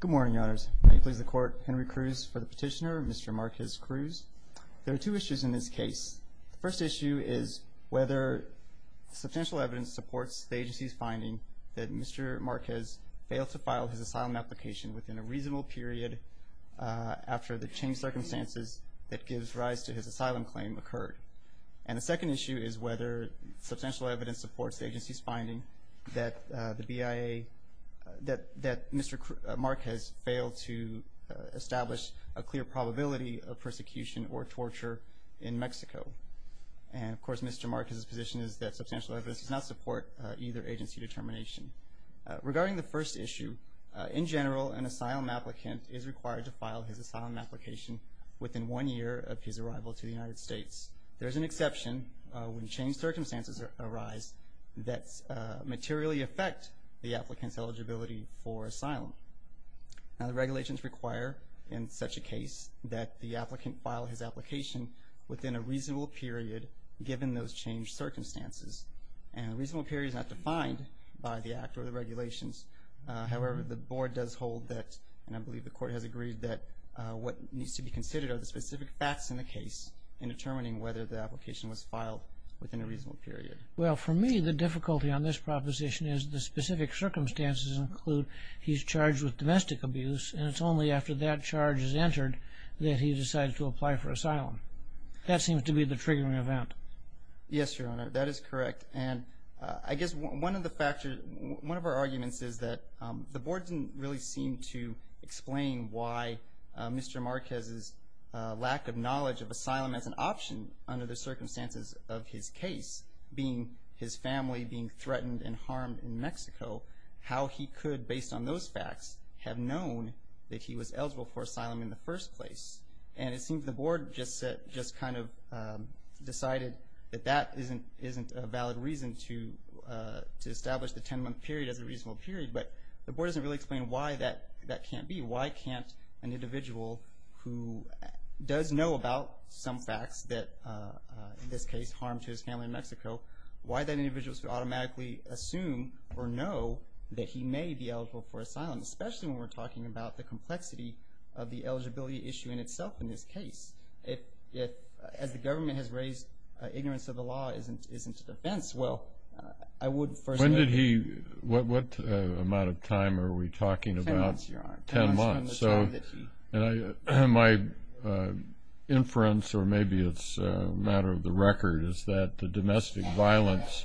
Good morning, Your Honors. May it please the Court, Henry Cruz for the petitioner, Mr. Marquez-Cruz. There are two issues in this case. The first issue is whether substantial evidence supports the agency's finding that Mr. Marquez failed to file his asylum application within a reasonable period after the changed circumstances that gives rise to his asylum claim occurred. And the second issue is whether substantial evidence supports the agency's finding that Mr. Marquez failed to establish a clear probability of persecution or torture in Mexico. And, of course, Mr. Marquez's position is that substantial evidence does not support either agency determination. Regarding the first issue, in general, an asylum applicant is required to file his asylum application within one year of his arrival to the United States. There is an exception when changed circumstances arise that materially affect the applicant's eligibility for asylum. Now the regulations require, in such a case, that the applicant file his application within a reasonable period given those changed circumstances. And a reasonable period is not defined by the Act or the regulations. However, the Board does hold that, and I believe the Court has agreed that, what needs to be considered are the specific facts in the case in determining whether the application was filed within a reasonable period. Well, for me, the difficulty on this proposition is the specific circumstances include he's charged with domestic abuse, and it's only after that charge is entered that he decides to apply for asylum. That seems to be the triggering event. Yes, Your Honor, that is correct. And I guess one of our arguments is that the Board didn't really seem to explain why Mr. Marquez's lack of knowledge of asylum as an option under the circumstances of his case, being his family being threatened and harmed in Mexico, how he could, based on those facts, have known that he was eligible for asylum in the first place. And it seems the Board just kind of decided that that isn't a valid reason to establish the 10-month period as a reasonable period. But the Board doesn't really explain why that can't be. Why can't an individual who does know about some facts that, in this case, harm to his family in Mexico, why that individual should automatically assume or know that he may be eligible for asylum, especially when we're talking about the complexity of the eligibility issue in itself in this case? If, as the government has raised, ignorance of the law isn't a defense, well, I would first... When did he, what amount of time are we talking about? Ten months, Your Honor. Ten months. Ten months from the time that he... My inference, or maybe it's a matter of the record, is that the domestic violence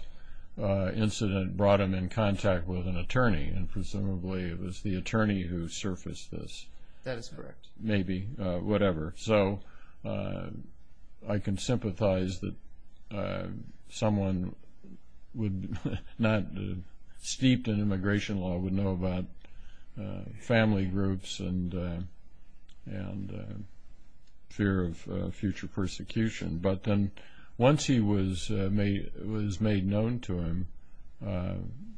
incident brought him in contact with an attorney, and presumably it was the attorney who surfaced this. That is correct. Maybe. Whatever. So I can sympathize that someone would not, steeped in immigration law, would know about family groups and fear of future persecution. But then once he was made known to him,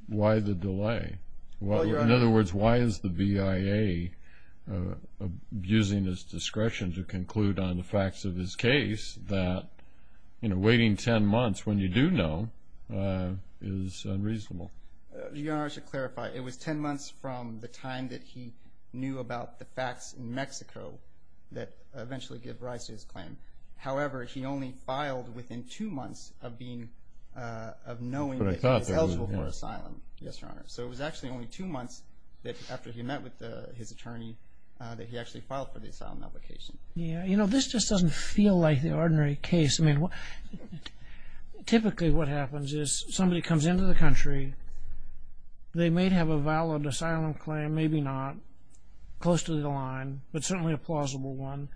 why the delay? Well, Your Honor... In other words, why is the BIA abusing its discretion to conclude on the facts of his case that, you know, waiting ten months when you do know is unreasonable? Your Honor, I should clarify. It was ten months from the time that he knew about the facts in Mexico that eventually gave rise to his claim. However, he only filed within two months of knowing that he was eligible for asylum. Yes, Your Honor. So it was actually only two months after he met with his attorney that he actually filed for the asylum application. Yeah. You know, this just doesn't feel like the ordinary case. I mean, typically what happens is somebody comes into the country. They may have a valid asylum claim, maybe not, close to the line, but certainly a plausible one.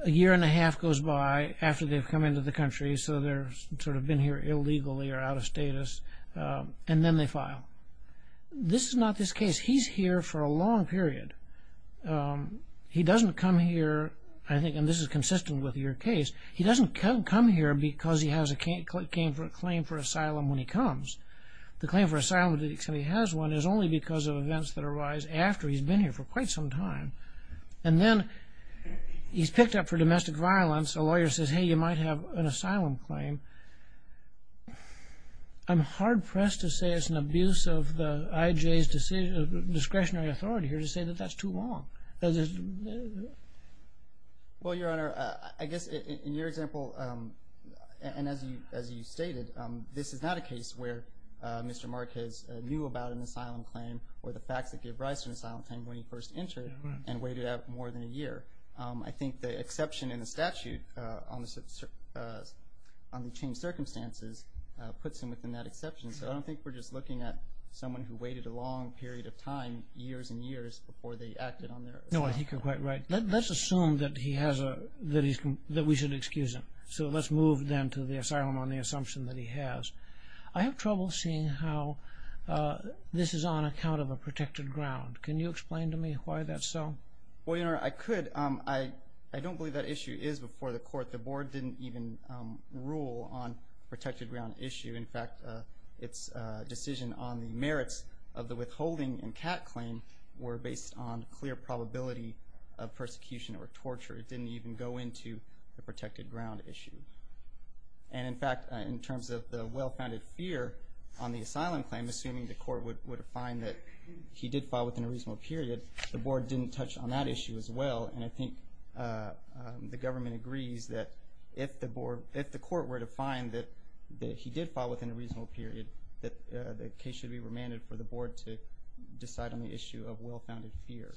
A year and a half goes by after they've come into the country, so they've sort of been here illegally or out of status, and then they file. This is not this case. He's here for a long period. He doesn't come here, I think, and this is consistent with your case, he doesn't come here because he has a claim for asylum when he comes. The claim for asylum that he has one is only because of events that arise after he's been here for quite some time. And then he's picked up for domestic violence. A lawyer says, hey, you might have an asylum claim. I'm hard-pressed to say it's an abuse of the IJ's discretionary authority here to say that that's too long. Well, Your Honor, I guess in your example and as you stated, this is not a case where Mr. Marquez knew about an asylum claim or the facts that gave rise to an asylum claim when he first entered and waited out more than a year. I think the exception in the statute on the changed circumstances puts him within that exception, so I don't think we're just looking at someone who waited a long period of time, years and years, before they acted on their asylum claim. No, I think you're quite right. Let's assume that we should excuse him. So let's move then to the asylum on the assumption that he has. I have trouble seeing how this is on account of a protected ground. Can you explain to me why that's so? Well, Your Honor, I could. I don't believe that issue is before the court. The board didn't even rule on protected ground issue. In fact, its decision on the merits of the withholding and CAT claim were based on clear probability of persecution or torture. It didn't even go into the protected ground issue. In fact, in terms of the well-founded fear on the asylum claim, assuming the court would find that he did file within a reasonable period, the board didn't touch on that issue as well, and I think the government agrees that if the court were to find that he did file within a reasonable period, the case should be remanded for the board to decide on the issue of well-founded fear.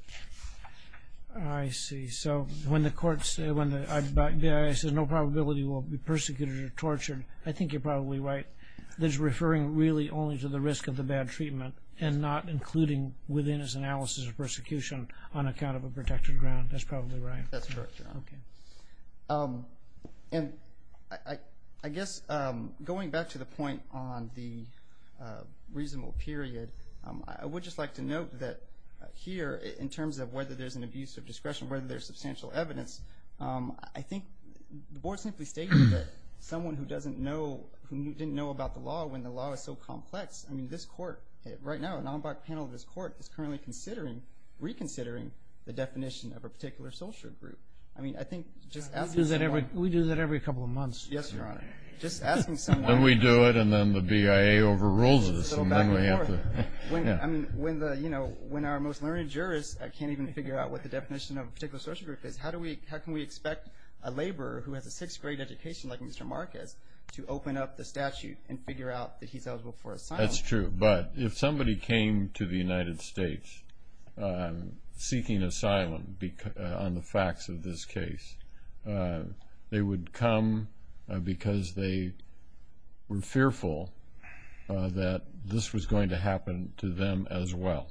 I see. So when the court says no probability will be persecuted or tortured, I think you're probably right. This is referring really only to the risk of the bad treatment and not including within its analysis of persecution on account of a protected ground. That's probably right. That's correct, Your Honor. Okay. And I guess going back to the point on the reasonable period, I would just like to note that here in terms of whether there's an abuse of discretion, whether there's substantial evidence, I think the board simply stated that someone who didn't know about the law when the law is so complex, I mean, this court right now, an en banc panel of this court, is currently reconsidering the definition of a particular social group. I mean, I think just asking someone— We do that every couple of months. Yes, Your Honor. Just asking someone— Then we do it, and then the BIA overrules us, and then we have to— When our most learned jurist can't even figure out what the definition of a particular social group is, how can we expect a laborer who has a sixth-grade education like Mr. Marquez to open up the statute and figure out that he's eligible for asylum? That's true. But if somebody came to the United States seeking asylum on the facts of this case, they would come because they were fearful that this was going to happen to them as well.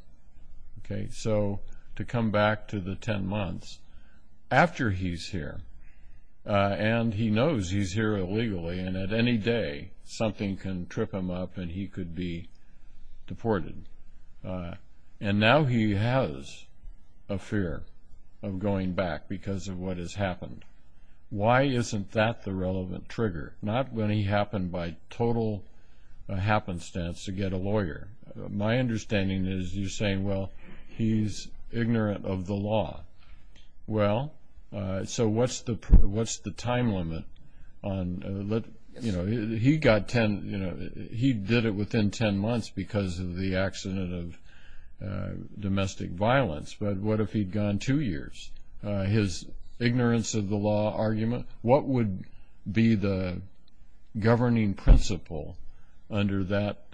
Okay? So to come back to the 10 months after he's here, and he knows he's here illegally, and at any day something can trip him up and he could be deported. And now he has a fear of going back because of what has happened. Why isn't that the relevant trigger? Not when he happened by total happenstance to get a lawyer. My understanding is you're saying, well, he's ignorant of the law. Well, so what's the time limit on— He did it within 10 months because of the accident of domestic violence, but what if he'd gone two years? His ignorance of the law argument, what would be the governing principle under that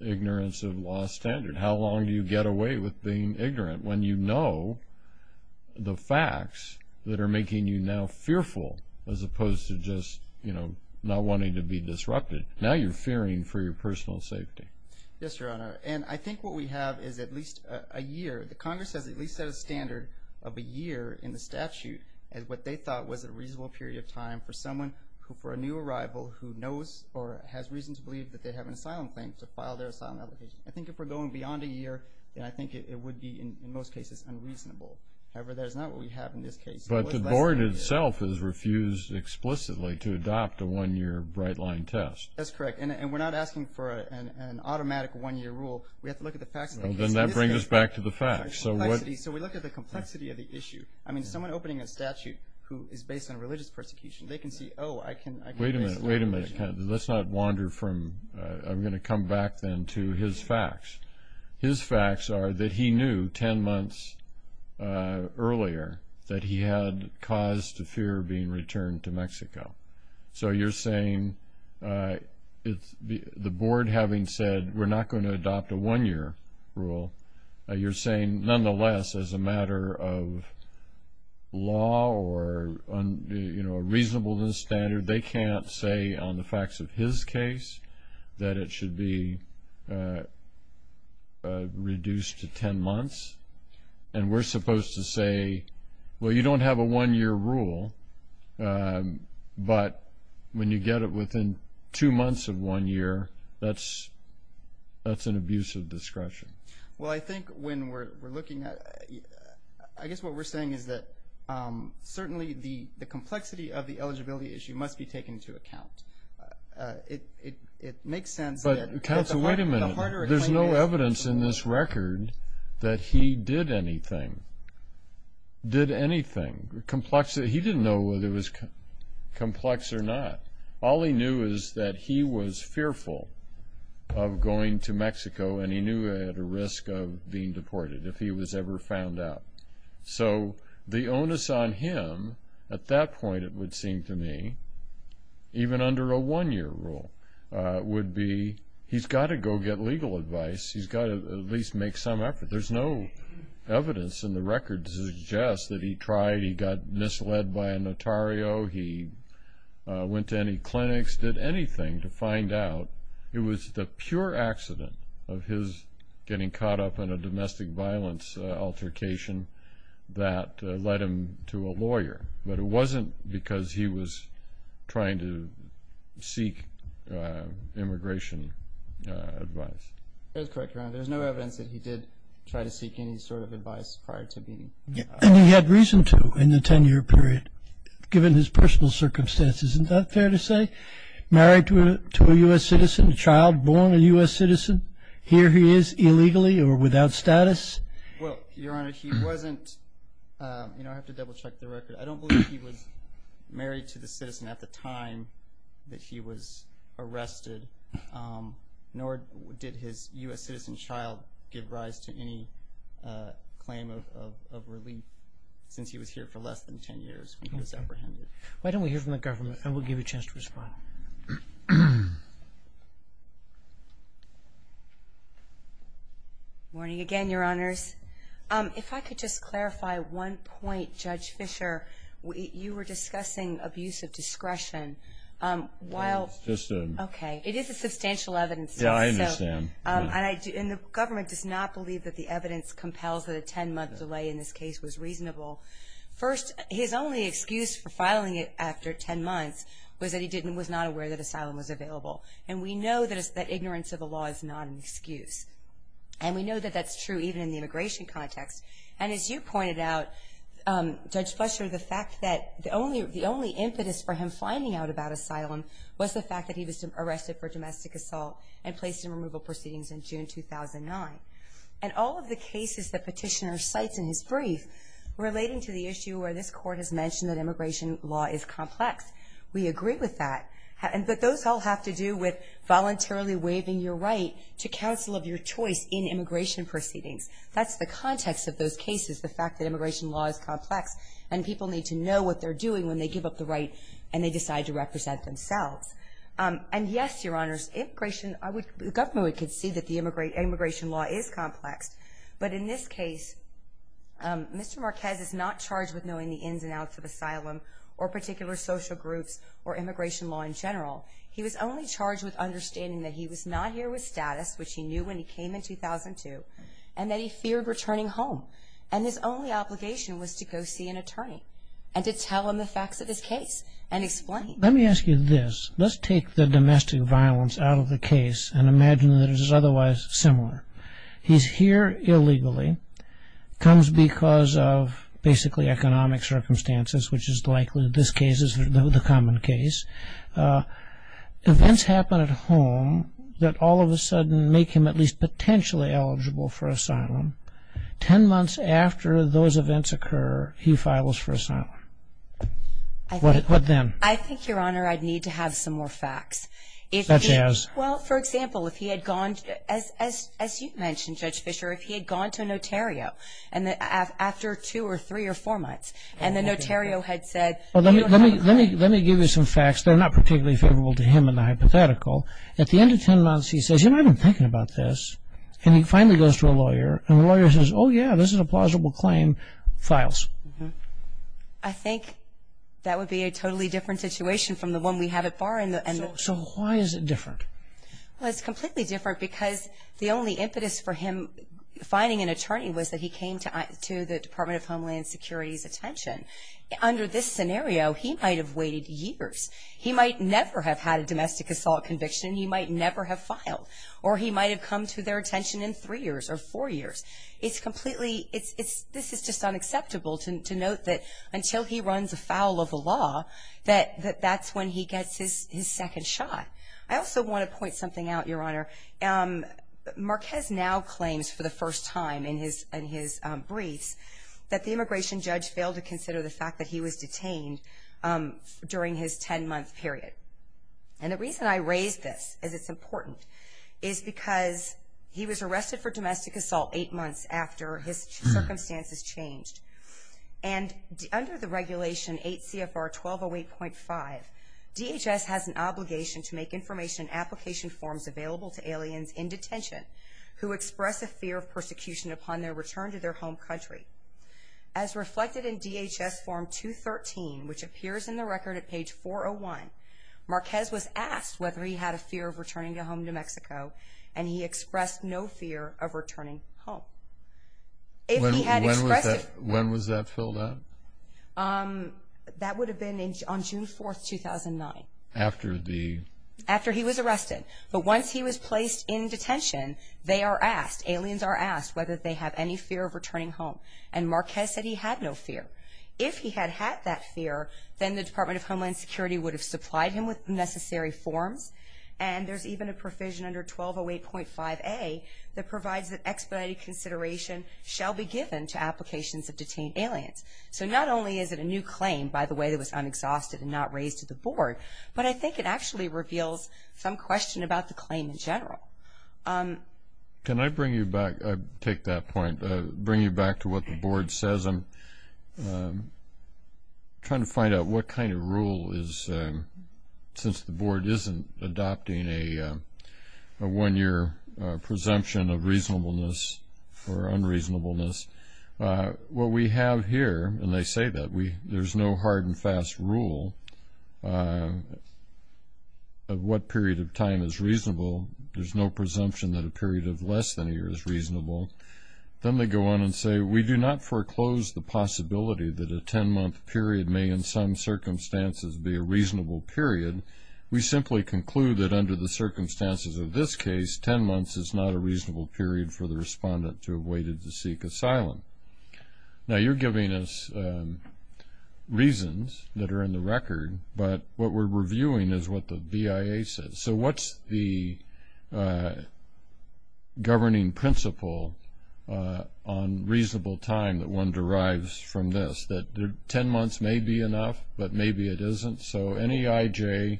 ignorance of law standard? How long do you get away with being ignorant when you know the facts that are making you now fearful as opposed to just not wanting to be disrupted? Now you're fearing for your personal safety. Yes, Your Honor. And I think what we have is at least a year. The Congress has at least set a standard of a year in the statute as what they thought was a reasonable period of time for someone who, for a new arrival, who knows or has reason to believe that they have an asylum claim to file their asylum application. I think if we're going beyond a year, then I think it would be, in most cases, unreasonable. However, that is not what we have in this case. But the board itself has refused explicitly to adopt a one-year bright-line test. That's correct. And we're not asking for an automatic one-year rule. We have to look at the facts. Then that brings us back to the facts. So we look at the complexity of the issue. I mean, someone opening a statute who is based on religious persecution, they can see, oh, I can— Wait a minute. Let's not wander from—I'm going to come back then to his facts. His facts are that he knew 10 months earlier that he had cause to fear being returned to Mexico. So you're saying the board, having said, we're not going to adopt a one-year rule, you're saying, nonetheless, as a matter of law or, you know, a reasonableness standard, they can't say on the facts of his case that it should be reduced to 10 months? And we're supposed to say, well, you don't have a one-year rule, but when you get it within two months of one year, that's an abuse of discretion. Well, I think when we're looking at—I guess what we're saying is that certainly the complexity of the eligibility issue must be taken into account. It makes sense that— But counsel, wait a minute. There's no evidence in this record that he did anything, did anything. He didn't know whether it was complex or not. All he knew is that he was fearful of going to Mexico, and he knew he had a risk of being deported if he was ever found out. So the onus on him at that point, it would seem to me, even under a one-year rule, would be he's got to go get legal advice. He's got to at least make some effort. There's no evidence in the record to suggest that he tried, he got misled by a notario, he went to any clinics, did anything to find out. It was the pure accident of his getting caught up in a domestic violence altercation that led him to a lawyer. But it wasn't because he was trying to seek immigration advice. That's correct, Your Honor. There's no evidence that he did try to seek any sort of advice prior to being— And he had reason to in the 10-year period, given his personal circumstances. Isn't that fair to say? Married to a U.S. citizen, a child born a U.S. citizen, here he is illegally or without status? Well, Your Honor, he wasn't—I have to double-check the record. I don't believe he was married to the citizen at the time that he was arrested, nor did his U.S. citizen child give rise to any claim of relief since he was here for less than 10 years when he was apprehended. Why don't we hear from the government, and we'll give you a chance to respond. Morning again, Your Honors. If I could just clarify one point, Judge Fischer. You were discussing abuse of discretion. It's just a— Okay. It is a substantial evidence case. Yeah, I understand. And the government does not believe that the evidence compels that a 10-month delay in this case was reasonable. First, his only excuse for filing it after 10 months was that he was not aware that asylum was available. And we know that ignorance of the law is not an excuse. And we know that that's true even in the immigration context. And as you pointed out, Judge Fischer, the fact that— the only impetus for him finding out about asylum was the fact that he was arrested for domestic assault and placed in removal proceedings in June 2009. And all of the cases that Petitioner cites in his brief relating to the issue where this Court has mentioned that immigration law is complex, we agree with that. But those all have to do with voluntarily waiving your right to counsel of your choice in immigration proceedings. That's the context of those cases, the fact that immigration law is complex, and people need to know what they're doing when they give up the right and they decide to represent themselves. And yes, Your Honors, the government could see that the immigration law is complex. But in this case, Mr. Marquez is not charged with knowing the ins and outs of asylum or particular social groups or immigration law in general. He was only charged with understanding that he was not here with status, which he knew when he came in 2002, and that he feared returning home. And his only obligation was to go see an attorney and to tell him the facts of his case and explain. So let me ask you this. Let's take the domestic violence out of the case and imagine that it is otherwise similar. He's here illegally, comes because of basically economic circumstances, which is likely this case is the common case. Events happen at home that all of a sudden make him at least potentially eligible for asylum. Ten months after those events occur, he files for asylum. What then? I think, Your Honor, I'd need to have some more facts. Such as? Well, for example, if he had gone, as you mentioned, Judge Fischer, if he had gone to a notario after two or three or four months and the notario had said, Well, let me give you some facts that are not particularly favorable to him in the hypothetical. At the end of ten months, he says, you know, I've been thinking about this. And he finally goes to a lawyer, and the lawyer says, oh, yeah, this is a plausible claim, files. I think that would be a totally different situation from the one we have at bar. So why is it different? Well, it's completely different because the only impetus for him finding an attorney was that he came to the Department of Homeland Security's attention. Under this scenario, he might have waited years. He might never have had a domestic assault conviction. He might never have filed. Or he might have come to their attention in three years or four years. It's completely, this is just unacceptable to note that until he runs afoul of the law, that that's when he gets his second shot. I also want to point something out, Your Honor. Marquez now claims for the first time in his briefs that the immigration judge failed to consider the fact that he was detained during his ten-month period. And the reason I raise this is it's important, is because he was arrested for domestic assault eight months after his circumstances changed. And under the regulation 8 CFR 1208.5, DHS has an obligation to make information and application forms available to aliens in detention who express a fear of persecution upon their return to their home country. As reflected in DHS form 213, which appears in the record at page 401, Marquez was asked whether he had a fear of returning home to Mexico, and he expressed no fear of returning home. When was that filled out? That would have been on June 4, 2009. After the? After he was arrested. But once he was placed in detention, they are asked, aliens are asked whether they have any fear of returning home. And Marquez said he had no fear. If he had had that fear, then the Department of Homeland Security would have supplied him with necessary forms, and there's even a provision under 1208.5a that provides that expedited consideration shall be given to applications of detained aliens. So not only is it a new claim, by the way, that was unexhausted and not raised to the board, but I think it actually reveals some question about the claim in general. Can I bring you back? I take that point. Bring you back to what the board says. I'm trying to find out what kind of rule is, since the board isn't adopting a one-year presumption of reasonableness or unreasonableness. What we have here, and they say that there's no hard and fast rule of what period of time is reasonable. There's no presumption that a period of less than a year is reasonable. Then they go on and say, we do not foreclose the possibility that a 10-month period may in some circumstances be a reasonable period. We simply conclude that under the circumstances of this case, 10 months is not a reasonable period for the respondent to have waited to seek asylum. Now, you're giving us reasons that are in the record, but what we're reviewing is what the BIA says. So what's the governing principle on reasonable time that one derives from this, that 10 months may be enough, but maybe it isn't? So any IJ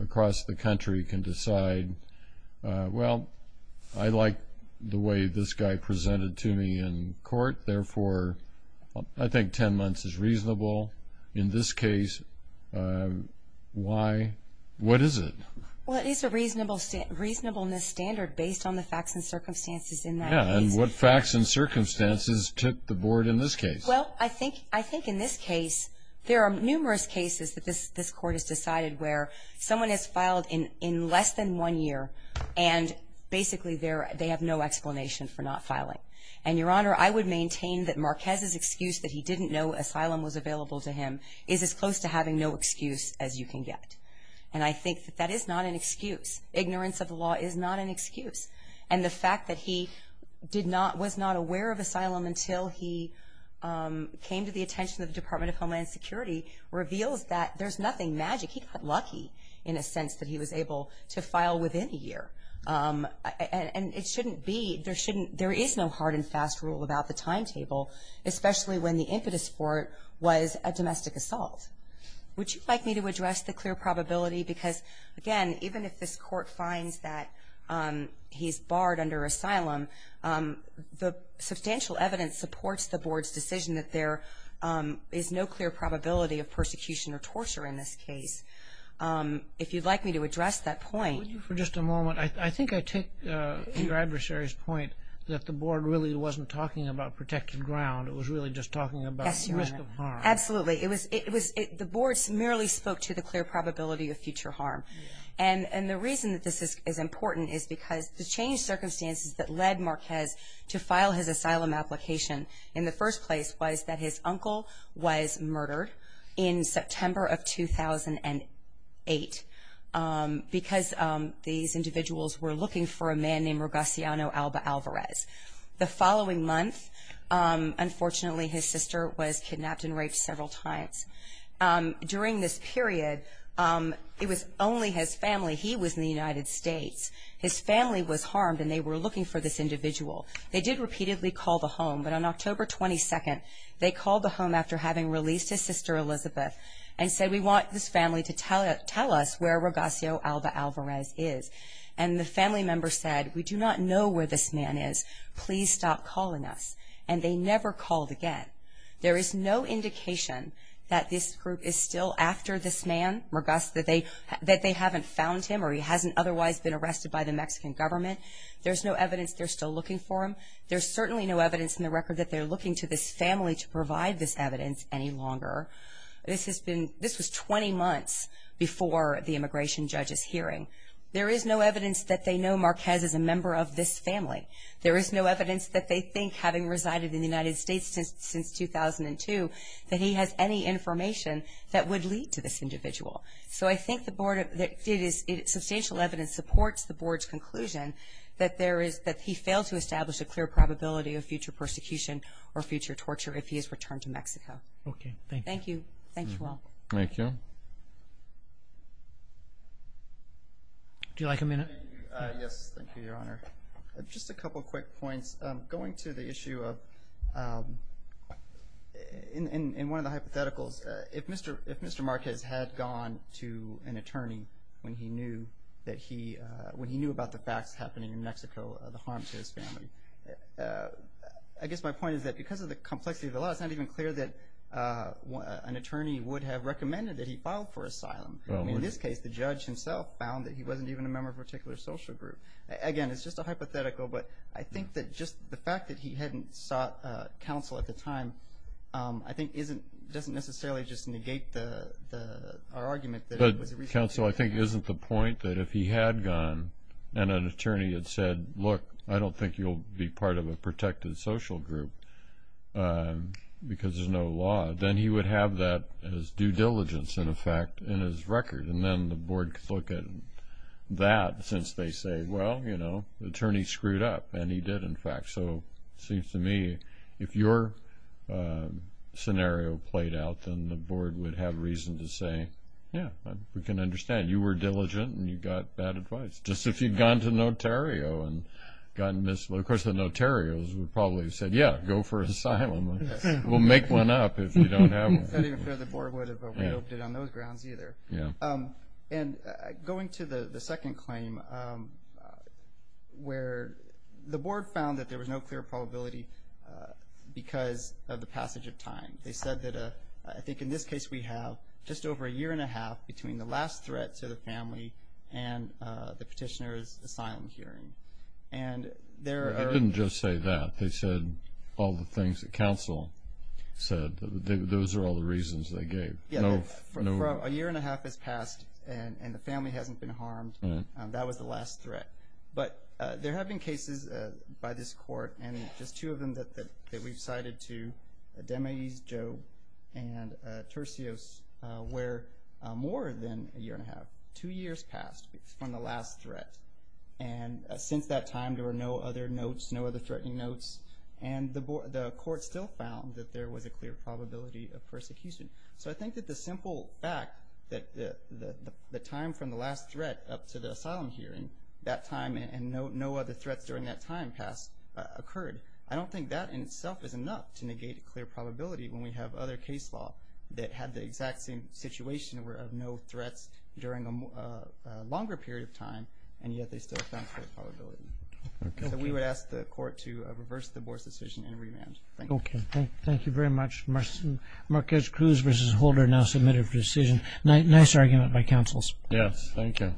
across the country can decide, well, I like the way this guy presented to me in court. Therefore, I think 10 months is reasonable. Well, in this case, what is it? Well, it is a reasonableness standard based on the facts and circumstances in that case. Yeah, and what facts and circumstances took the board in this case? Well, I think in this case, there are numerous cases that this court has decided where someone has filed in less than one year, and basically they have no explanation for not filing. And, Your Honor, I would maintain that Marquez's excuse that he didn't know asylum was available to him is as close to having no excuse as you can get. And I think that that is not an excuse. Ignorance of the law is not an excuse. And the fact that he was not aware of asylum until he came to the attention of the Department of Homeland Security reveals that there's nothing magic. He got lucky in a sense that he was able to file within a year. And it shouldn't be, there shouldn't, there is no hard and fast rule about the timetable, especially when the impetus for it was a domestic assault. Would you like me to address the clear probability? Because, again, even if this court finds that he's barred under asylum, the substantial evidence supports the board's decision that there is no clear probability of persecution or torture in this case. If you'd like me to address that point. For just a moment, I think I take your adversary's point that the board really wasn't talking about protected ground. It was really just talking about risk of harm. Absolutely. It was, the board merely spoke to the clear probability of future harm. And the reason that this is important is because the changed circumstances that led Marquez to file his asylum application in the first place was that his uncle was murdered in September of 2008 because these individuals were looking for a man named Ragaciano Alba Alvarez. The following month, unfortunately, his sister was kidnapped and raped several times. During this period, it was only his family. He was in the United States. His family was harmed and they were looking for this individual. They did repeatedly call the home, but on October 22nd, they called the home after having released his sister Elizabeth and said, we want this family to tell us where Ragaciano Alba Alvarez is. And the family member said, we do not know where this man is. Please stop calling us. And they never called again. There is no indication that this group is still after this man, Ragac, that they haven't found him or he hasn't otherwise been arrested by the Mexican government. There's no evidence they're still looking for him. There's certainly no evidence in the record that they're looking to this family to provide this evidence any longer. This was 20 months before the immigration judge's hearing. There is no evidence that they know Marquez is a member of this family. There is no evidence that they think, having resided in the United States since 2002, that he has any information that would lead to this individual. So I think substantial evidence supports the board's conclusion that he failed to establish a clear probability of future persecution or future torture if he is returned to Mexico. Okay, thank you. Thank you. Thank you all. Thank you. Would you like a minute? Yes, thank you, Your Honor. Just a couple quick points. Going to the issue of, in one of the hypotheticals, if Mr. Marquez had gone to an attorney when he knew about the facts happening in Mexico, the harm to his family, I guess my point is that because of the complexity of the law, it's not even clear that an attorney would have recommended that he filed for asylum. In this case, the judge himself found that he wasn't even a member of a particular social group. Again, it's just a hypothetical, but I think that just the fact that he hadn't sought counsel at the time, I think doesn't necessarily just negate our argument that it was a recent case. But, counsel, I think it isn't the point that if he had gone and an attorney had said, look, I don't think you'll be part of a protected social group because there's no law, then he would have that as due diligence, in effect, in his record, and then the board could look at that since they say, well, you know, the attorney screwed up, and he did, in fact. So it seems to me if your scenario played out, then the board would have reason to say, yeah, we can understand. You were diligent, and you got bad advice. Just as if you'd gone to Notario and gotten this. Of course, the Notarios would probably have said, yeah, go for asylum. We'll make one up if you don't have one. It's not even fair the board would have avoided it on those grounds either. And going to the second claim where the board found that there was no clear probability because of the passage of time. They said that I think in this case we have just over a year and a half between the last threat to the family and the petitioner's asylum hearing. They didn't just say that. They said all the things that counsel said. Those are all the reasons they gave. For a year and a half has passed, and the family hasn't been harmed. That was the last threat. But there have been cases by this court, and just two of them that we've cited to, DeMais, Joe, and Tercios, where more than a year and a half, two years passed from the last threat. And since that time, there were no other notes, no other threatening notes. And the court still found that there was a clear probability of persecution. So I think that the simple fact that the time from the last threat up to the asylum hearing, that time and no other threats during that time passed, occurred. I don't think that in itself is enough to negate a clear probability when we have other case law that had the exact same situation of no threats during a longer period of time, and yet they still found clear probability. So we would ask the court to reverse the board's decision and remand. Thank you. Thank you very much. Marquez-Cruz v. Holder now submitted for decision. Nice argument by counsels. Yes, thank you.